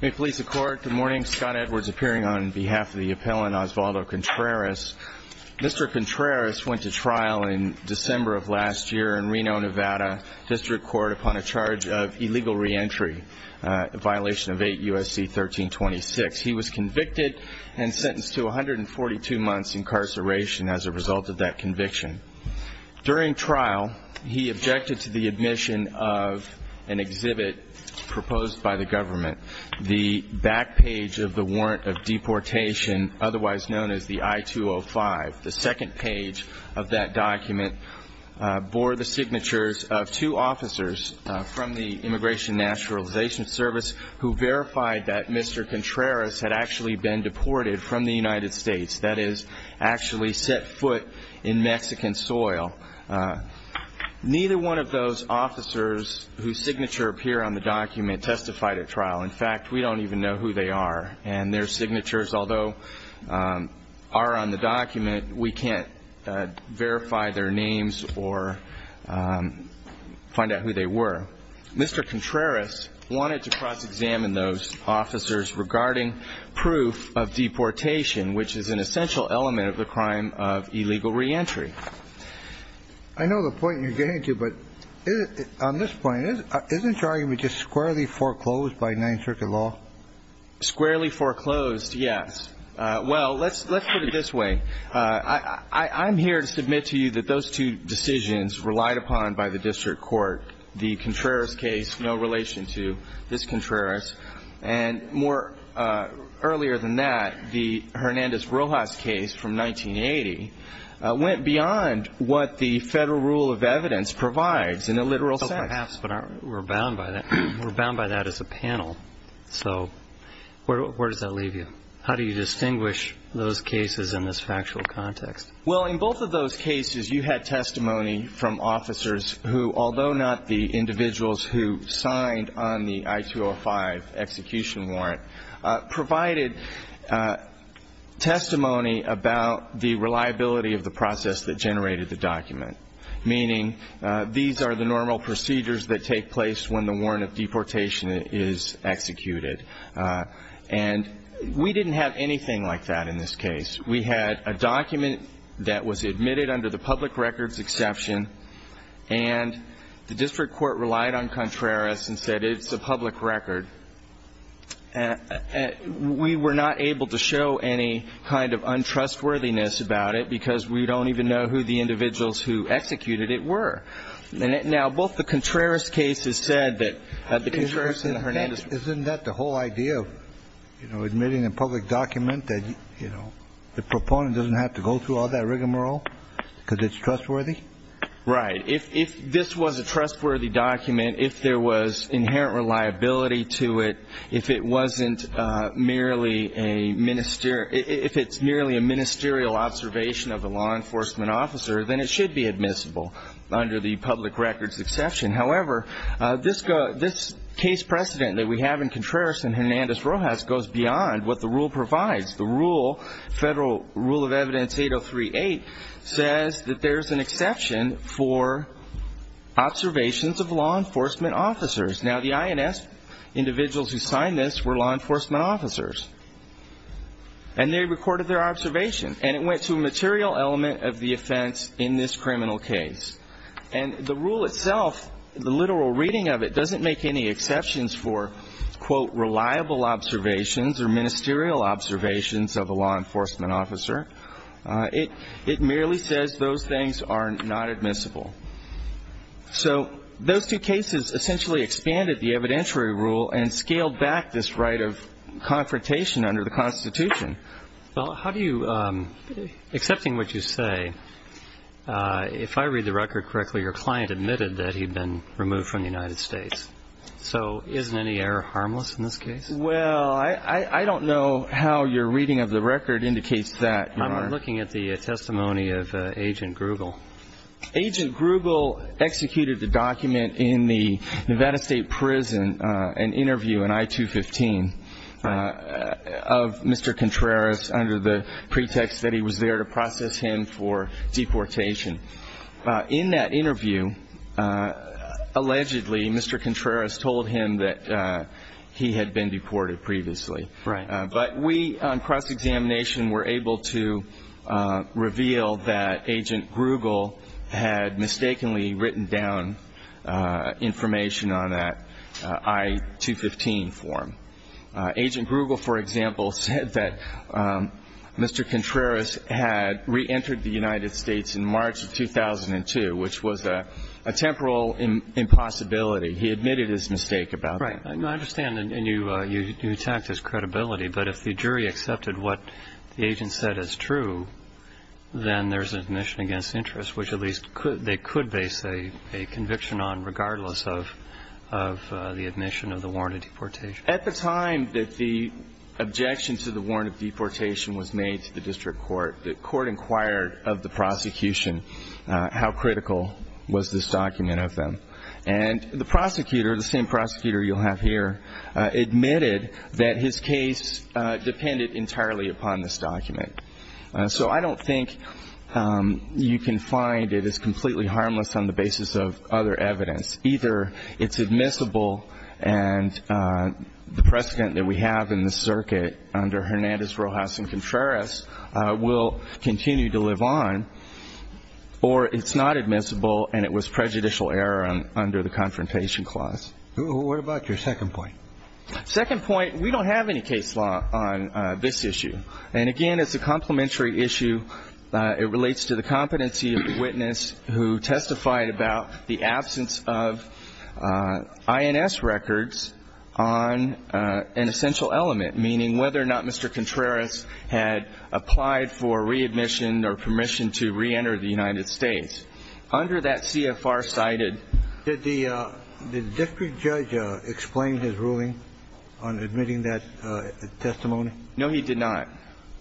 May it please the Court, good morning, Scott Edwards appearing on behalf of the appellant Osvaldo Contreras. Mr. Contreras went to trial in December of last year in Reno, Nevada District Court upon a charge of illegal reentry, a violation of 8 U.S.C. 1326. He was convicted and sentenced to 142 months incarceration as a result of that conviction. During trial he objected to the admission of an exhibit proposed by the government, the back page of the warrant of deportation, otherwise known as the I-205. The second page of that document bore the signatures of two officers from the Immigration and Naturalization Service who verified that Mr. Contreras had actually been deported from the United States, that is, actually set foot in Mexican soil. Neither one of those officers whose signature appear on the document testified at trial. In fact, we don't even know who they are and their signatures, although are on the document, we can't verify their names or find out who they were. Mr. Contreras wanted to cross-examine those officers regarding proof of deportation, which is an essential element of the crime of illegal reentry. I know the point you're getting to, but on this point, isn't your argument just squarely foreclosed by Ninth Circuit law? Squarely foreclosed, yes. Well, let's put it this way. I'm here to submit to you that those two decisions relied upon by the district court, the Contreras case, no relation to this Contreras, and more earlier than that, the Hernandez-Rojas case from 1980, went beyond what the federal rule of evidence provides in a literal sense. Well, perhaps, but we're bound by that. We're bound by that as a panel. So where does that leave you? How do you distinguish those cases in this factual context? Well, in both of those cases, you had testimony from officers who, although not the individuals who signed on the I-205 execution warrant, provided testimony about the reliability of the process that generated the document, meaning these are the normal procedures that take place when the warrant of deportation is executed. And we didn't have anything like that in this case. We had a document that was admitted under the public records exception, and the district court relied on Contreras and said it's a public record. We were not able to show any kind of untrustworthiness about it because we don't even know who the individuals who executed it were. Now, both the Contreras cases said that the Contreras and Hernandez. Isn't that the whole idea of, you know, admitting a public document that, you know, the proponent doesn't have to go through all that rigmarole because it's trustworthy? Right. If this was a trustworthy document, if there was inherent reliability to it, if it wasn't merely a ministerial, if it's merely a ministerial observation of a law enforcement officer, then it should be admissible under the public records exception. However, this case precedent that we have in Contreras and Hernandez-Rojas goes beyond what the rule provides. The rule, Federal Rule of Evidence 8038, says that there's an exception for observations of law enforcement officers. Now, the INS individuals who signed this were law enforcement officers, and they recorded their observations, and it went to a material element of the offense in this criminal case. And the rule itself, the literal reading of it, doesn't make any exceptions for, quote, reliable observations or ministerial observations of a law enforcement officer. It merely says those things are not admissible. So those two cases essentially expanded the evidentiary rule and scaled back this right of confrontation under the Constitution. Well, how do you, accepting what you say, if I read the record correctly, your client admitted that he had been removed from the United States. So isn't any error harmless in this case? Well, I don't know how your reading of the record indicates that, Your Honor. I'm looking at the testimony of Agent Grubel. Agent Grubel executed the document in the Nevada State Prison, an interview in I-215 of Mr. Contreras under the pretext that he was there to process him for deportation. In that interview, allegedly, Mr. Contreras told him that he had been deported previously. Right. But we, on cross-examination, were able to reveal that Agent Grubel had mistakenly written down information on that I-215 form. Agent Grubel, for example, said that Mr. Contreras had reentered the United States in March of 2002, which was a temporal impossibility. He admitted his mistake about that. Right. I understand. And you attacked his credibility. But if the jury accepted what the agent said is true, then there's an admission against interest, which at least they could base a conviction on regardless of the admission of the warrant of deportation. At the time that the objection to the warrant of deportation was made to the district court, the court inquired of the prosecution how critical was this document of them. And the prosecutor, the same prosecutor you'll have here, admitted that his case depended entirely upon this document. So I don't think you can find it is completely harmless on the basis of other evidence. Either it's admissible and the precedent that we have in the circuit under Hernandez, Rojas, and Contreras will continue to live on, or it's not admissible and it was prejudicial error under the Confrontation Clause. What about your second point? Second point, we don't have any case law on this issue. And again, it's a complementary issue. It relates to the competency of the witness who testified about the absence of INS records on an essential element, meaning whether or not Mr. Contreras had applied for that CFR cited. Did the district judge explain his ruling on admitting that testimony? No, he did not.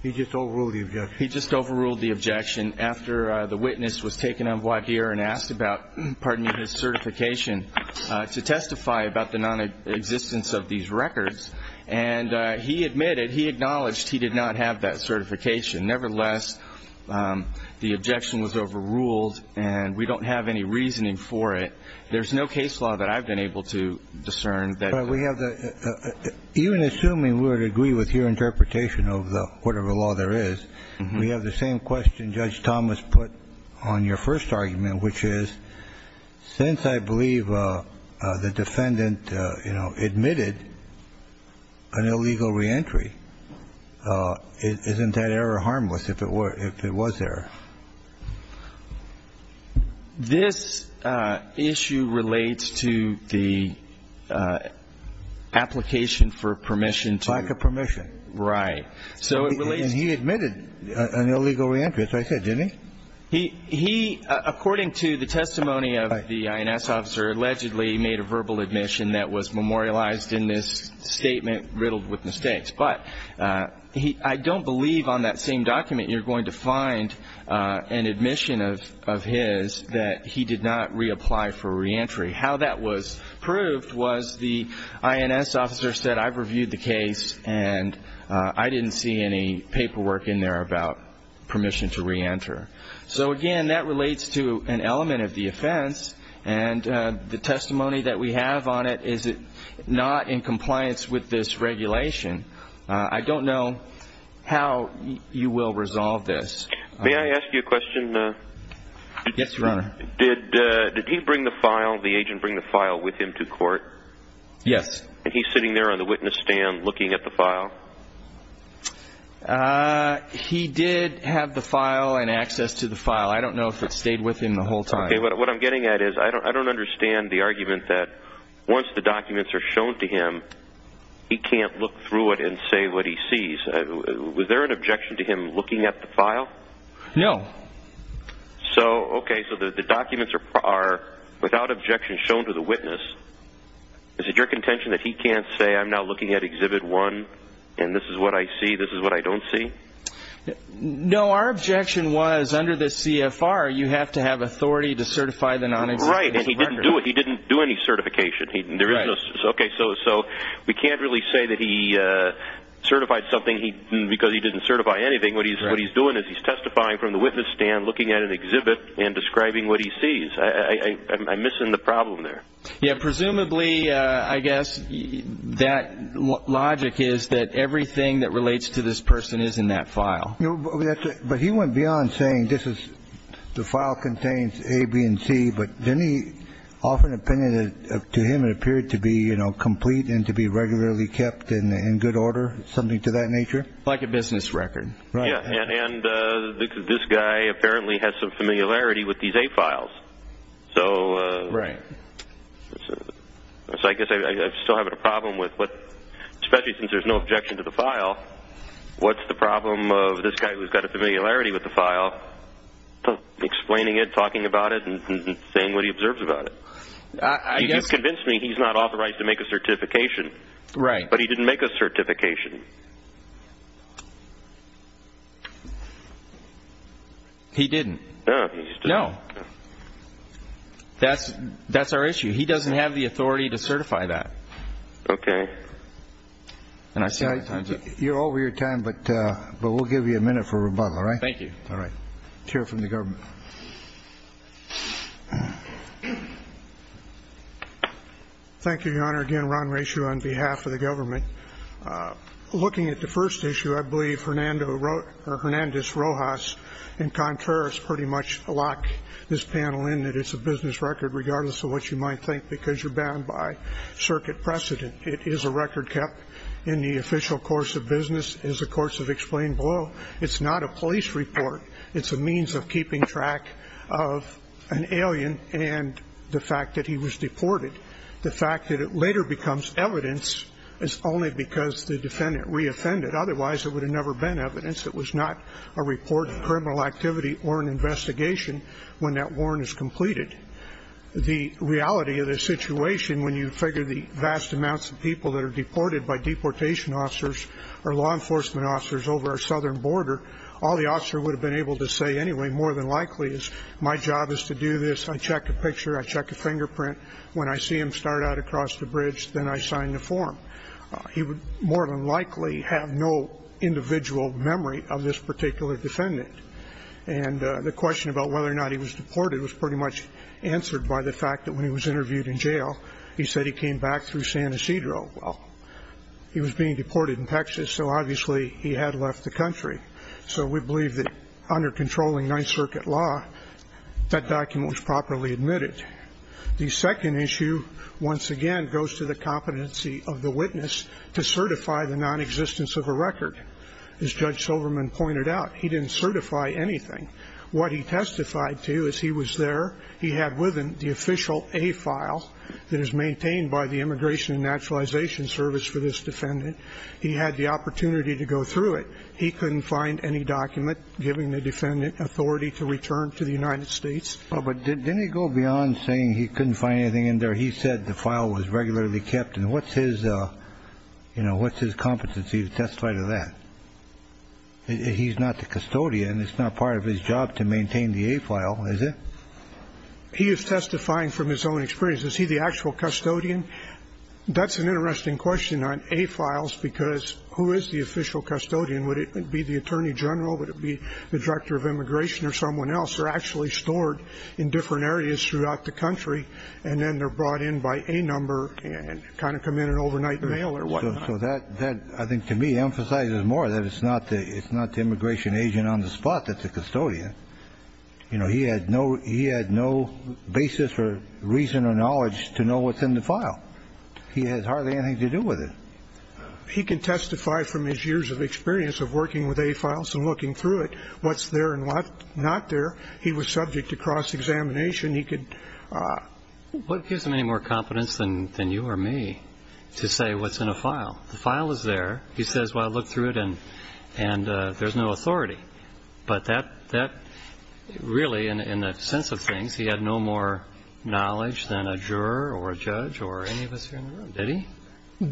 He just overruled the objection? He just overruled the objection after the witness was taken on voir dire and asked about his certification to testify about the nonexistence of these records. And he admitted, he acknowledged he did not have that certification. Nevertheless, the objection was overruled, and we don't have any reasoning for it. There's no case law that I've been able to discern that we have. Even assuming we would agree with your interpretation of whatever law there is, we have the same question Judge Thomas put on your first argument, which is, since I believe the defendant, you know, admitted an illegal reentry, isn't that error harmless if it were, if it was error? This issue relates to the application for permission to ---- Lack of permission. Right. So it relates to ---- And he admitted an illegal reentry, as I said, didn't he? He, according to the testimony of the INS officer, allegedly made a verbal admission that was memorialized in this statement riddled with mistakes. But I don't believe on that same document you're going to find an admission of his that he did not reapply for reentry. How that was proved was the INS officer said, I've reviewed the case, and I didn't see any paperwork in there about permission to reenter. So again, that relates to an element of the offense, and the testimony that we have on it is not in compliance with this regulation. I don't know how you will resolve this. May I ask you a question? Yes, Your Honor. Did he bring the file, the agent bring the file with him to court? Yes. Did he bring the file? He did have the file and access to the file. I don't know if it stayed with him the whole time. Okay, what I'm getting at is I don't understand the argument that once the documents are shown to him, he can't look through it and say what he sees. Was there an objection to him looking at the file? No. So, okay, so the documents are without objection shown to the witness. Is it your contention that he can't say I'm now looking at Exhibit 1, and this is what I see, this is what I don't see? No, our objection was under the CFR, you have to have authority to certify the non-exhibit record. Right, and he didn't do any certification. Okay, so we can't really say that he certified something because he didn't certify anything. What he's doing is he's testifying from the witness stand, looking at an exhibit, and describing what he sees. I'm missing the problem there. Yeah, presumably, I guess, that logic is that everything that relates to this person is in that file. But he went beyond saying this is, the file contains A, B, and C, but didn't he offer an opinion that to him it appeared to be, you know, complete and to be regularly kept in good order, something to that nature? Like a business record. Right. Yeah, and this guy apparently has some familiarity with these A files, so. Right. So I guess I still have a problem with what, especially since there's no objection to the file, what's the problem of this guy who's got a familiarity with the file, explaining it, talking about it, and saying what he observes about it? I guess. He just convinced me he's not authorized to make a certification. Right. But he didn't make a certification. He didn't. No, he didn't. No. That's, that's our issue. He doesn't have the authority to certify that. Okay. And I said. You're over your time, but, but we'll give you a minute for rebuttal, all right? Thank you. All right. Chair from the government. Thank you, Your Honor. Again, Ron Reschew on behalf of the government. Looking at the first issue, I believe Fernando wrote, or Hernandez Rojas and Contreras pretty much lock this panel in that it's a business record, regardless of what you might think, because you're bound by circuit precedent. It is a record kept in the official course of business, as the courts have explained below. It's not a police report. It's a means of keeping track of an alien and the fact that he was deported. The fact that it later becomes evidence is only because the defendant re-offended. Otherwise, it would have never been evidence. It was not a report of criminal activity or an investigation when that warrant is completed. The reality of the situation, when you figure the vast amounts of people that are deported by deportation officers or law enforcement officers over our southern border, all the officer would have been able to say anyway, more than likely, is my job is to do this. I check a picture. I check a fingerprint. When I see him start out across the bridge, then I sign the form. He would more than likely have no individual memory of this particular defendant. And the question about whether or not he was deported was pretty much answered by the fact that when he was interviewed in jail, he said he came back through San Ysidro. Well, he was being deported in Texas, so obviously he had left the country. So we believe that under controlling Ninth Circuit law, that document was properly admitted. The second issue, once again, goes to the competency of the witness to certify the nonexistence of a record. As Judge Silverman pointed out, he didn't certify anything. What he testified to is he was there. He had with him the official A file that is maintained by the Immigration and Naturalization Service for this defendant. He had the opportunity to go through it. He couldn't find any document giving the defendant authority to return to the United States. But didn't he go beyond saying he couldn't find anything in there? He said the file was regularly kept. And what's his competency to testify to that? He's not the custodian. It's not part of his job to maintain the A file, is it? He is testifying from his own experience. Is he the actual custodian? That's an interesting question on A files, because who is the official custodian? Would it be the attorney general? Would it be the director of immigration or someone else? The A files are actually stored in different areas throughout the country. And then they're brought in by A number and kind of come in an overnight mail or whatnot. So that, I think, to me, emphasizes more that it's not the immigration agent on the spot that's the custodian. You know, he had no basis or reason or knowledge to know what's in the file. He has hardly anything to do with it. He can testify from his years of experience of working with A files and looking through it, what's there and what's not there. He was subject to cross-examination. He could... What gives him any more competence than you or me to say what's in a file? The file is there. He says, well, I looked through it, and there's no authority. But that really, in the sense of things, he had no more knowledge than a juror or a judge or any of us here in the room. Did he?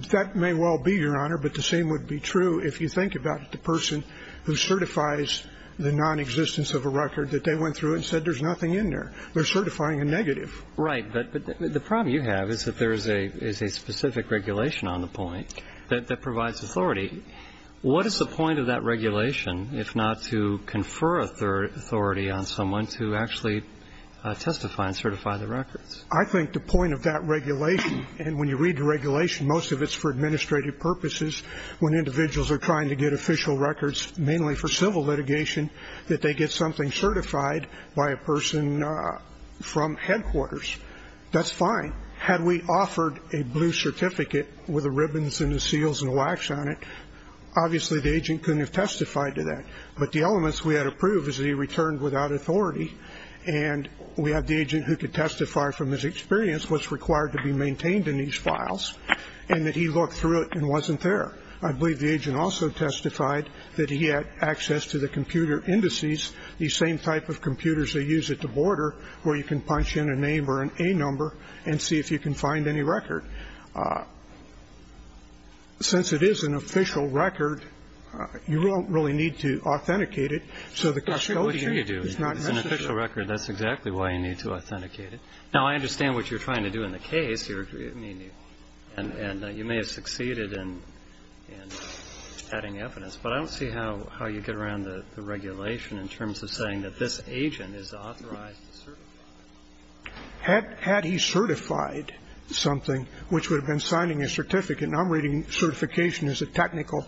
That may well be, Your Honor, but the same would be true if you think about the person who certifies the nonexistence of a record that they went through and said there's nothing in there. They're certifying a negative. Right. But the problem you have is that there is a specific regulation on the point that provides authority. What is the point of that regulation, if not to confer authority on someone to actually testify and certify the records? I think the point of that regulation, and when you read the regulation, most of it's for administrative purposes, when individuals are trying to get official records, mainly for civil litigation, that they get something certified by a person from headquarters. That's fine. Had we offered a blue certificate with the ribbons and the seals and the wax on it, obviously the agent couldn't have testified to that. But the elements we had approved is that he returned without authority, and we had the agent who could testify from his experience what's required to be maintained in these files, and that he looked through it and wasn't there. I believe the agent also testified that he had access to the computer indices, the same type of computers they use at the border where you can punch in a name or an A number and see if you can find any record. Since it is an official record, you don't really need to authenticate it. So the custodian is not necessary. It's an official record. That's exactly why you need to authenticate it. Now, I understand what you're trying to do in the case. I mean, and you may have succeeded in adding evidence, but I don't see how you get around the regulation in terms of saying that this agent is authorized to certify. Had he certified something, which would have been signing a certificate, and I'm reading certification as a technical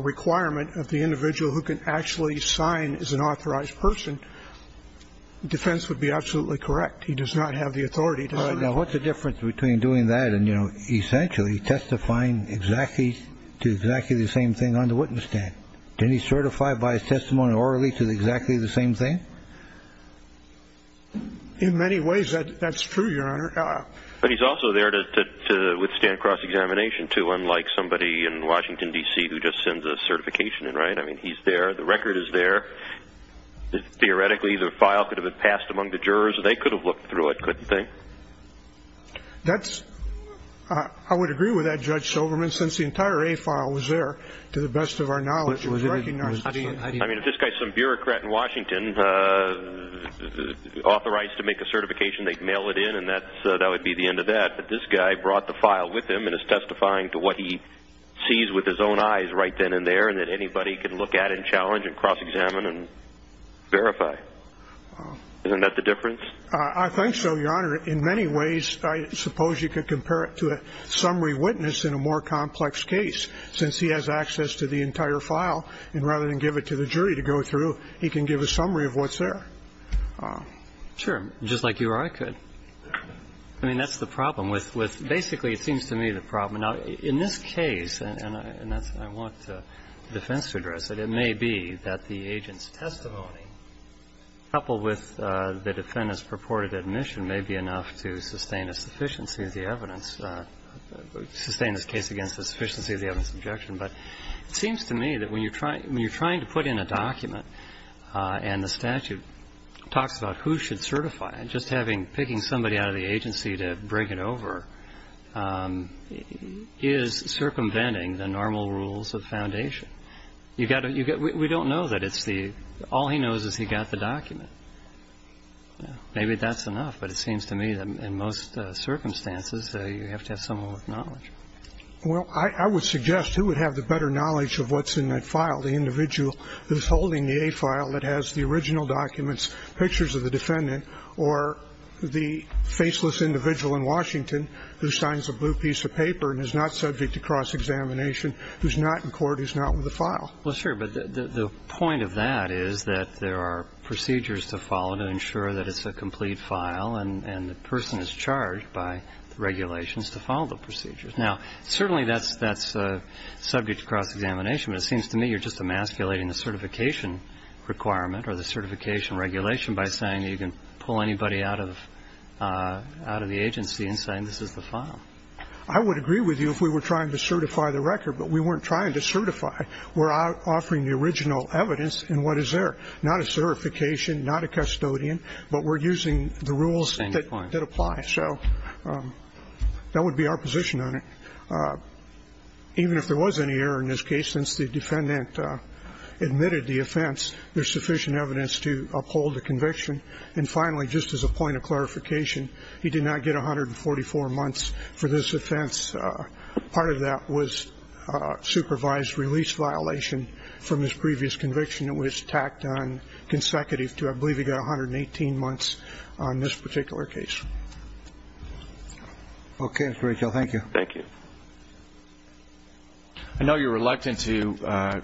requirement of the individual who can actually sign as an authorized person, defense would be absolutely correct. He does not have the authority to certify. Now, what's the difference between doing that and, you know, essentially testifying exactly to exactly the same thing on the witness stand? Can he certify by his testimony orally to exactly the same thing? In many ways, that's true, Your Honor. But he's also there to withstand cross-examination, too, unlike somebody in Washington, D.C., who just sends a certification, right? I mean, he's there. The record is there. Theoretically, the file could have been passed among the jurors, and they could have looked through it, couldn't they? I would agree with that, Judge Silverman, since the entire A file was there to the best of our knowledge. I mean, if this guy is some bureaucrat in Washington authorized to make a certification, they'd mail it in, and that would be the end of that. But this guy brought the file with him and is testifying to what he sees with his own eyes right then and there and that anybody can look at and challenge and cross-examine and verify. Isn't that the difference? I think so, Your Honor. In many ways, I suppose you could compare it to a summary witness in a more complex case, since he has access to the entire file. And rather than give it to the jury to go through, he can give a summary of what's there. Sure. Just like you or I could. I mean, that's the problem with basically, it seems to me, the problem. Now, in this case, and I want the defense to address it, it may be that the agent's testimony, coupled with the defendant's purported admission, may be enough to sustain a sufficiency of the evidence, sustain this case against the sufficiency of the evidence objection. But it seems to me that when you're trying to put in a document and the statute talks about who should certify it, just picking somebody out of the agency to break it over is circumventing the normal rules of foundation. We don't know that. All he knows is he got the document. Maybe that's enough. But it seems to me that in most circumstances, you have to have someone with knowledge. Well, I would suggest who would have the better knowledge of what's in that file, the individual who's holding the A file that has the original documents, pictures of the defendant, or the faceless individual in Washington who signs a blue piece of paper and is not subject to cross-examination, who's not in court, who's not with the file. Well, sure, but the point of that is that there are procedures to follow to ensure that it's a complete file, and the person is charged by the regulations to follow the procedures. Now, certainly that's subject to cross-examination, but it seems to me you're just emasculating the certification requirement or the certification regulation by saying that you can pull anybody out of the agency and saying this is the file. I would agree with you if we were trying to certify the record, but we weren't trying to certify. We're offering the original evidence, and what is there? Not a certification, not a custodian, but we're using the rules that apply. So that would be our position on it. Even if there was any error in this case, since the defendant admitted the offense, there's sufficient evidence to uphold the conviction. And finally, just as a point of clarification, he did not get 144 months for this offense. Part of that was supervised release violation from his previous conviction. It was tacked on consecutive to, I believe, he got 118 months on this particular case. Okay, Mr. Rachel. Thank you. Thank you. I know you're reluctant to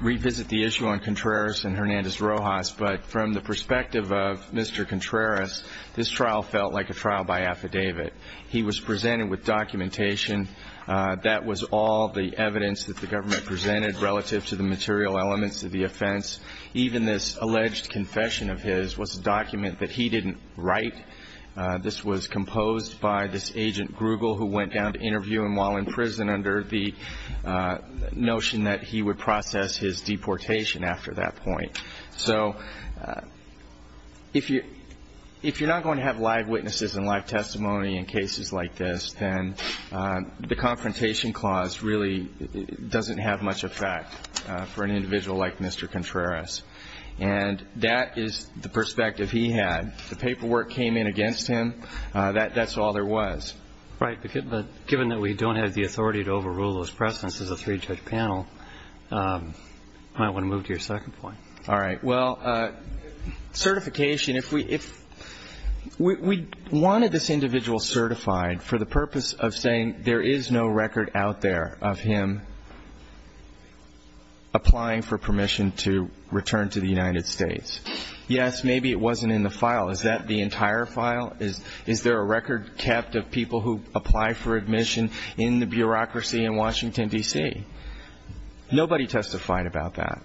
revisit the issue on Contreras and Hernandez-Rojas, but from the perspective of Mr. Contreras, this trial felt like a trial by affidavit. He was presented with documentation. That was all the evidence that the government presented relative to the material elements of the offense. Even this alleged confession of his was a document that he didn't write. This was composed by this agent, Grugel, who went down to interview him while in prison under the notion that he would process his deportation after that point. So if you're not going to have live witnesses and live testimony in cases like this, then the confrontation clause really doesn't have much effect for an individual like Mr. Contreras. And that is the perspective he had. The paperwork came in against him. That's all there was. Right. But given that we don't have the authority to overrule those precedents as a three-judge panel, I might want to move to your second point. All right. Well, certification, if we wanted this individual certified for the purpose of saying there is no record out there of him applying for permission to return to the United States, yes, maybe it wasn't in the file. Is that the entire file? Is there a record kept of people who apply for admission in the bureaucracy in Washington, D.C.? Nobody testified about that.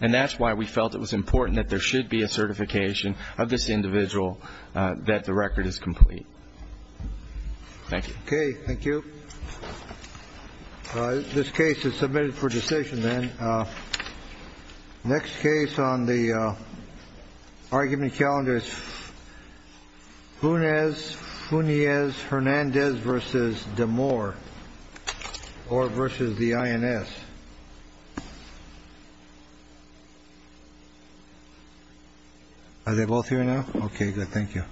And that's why we felt it was important that there should be a certification of this individual that the record is complete. Thank you. Okay. Thank you. This case is submitted for decision, then. Next case on the argument calendar is Funes, Funiez, Hernandez v. Demore v. INS. Are they both here now? Okay. Good. Thank you. Thank you.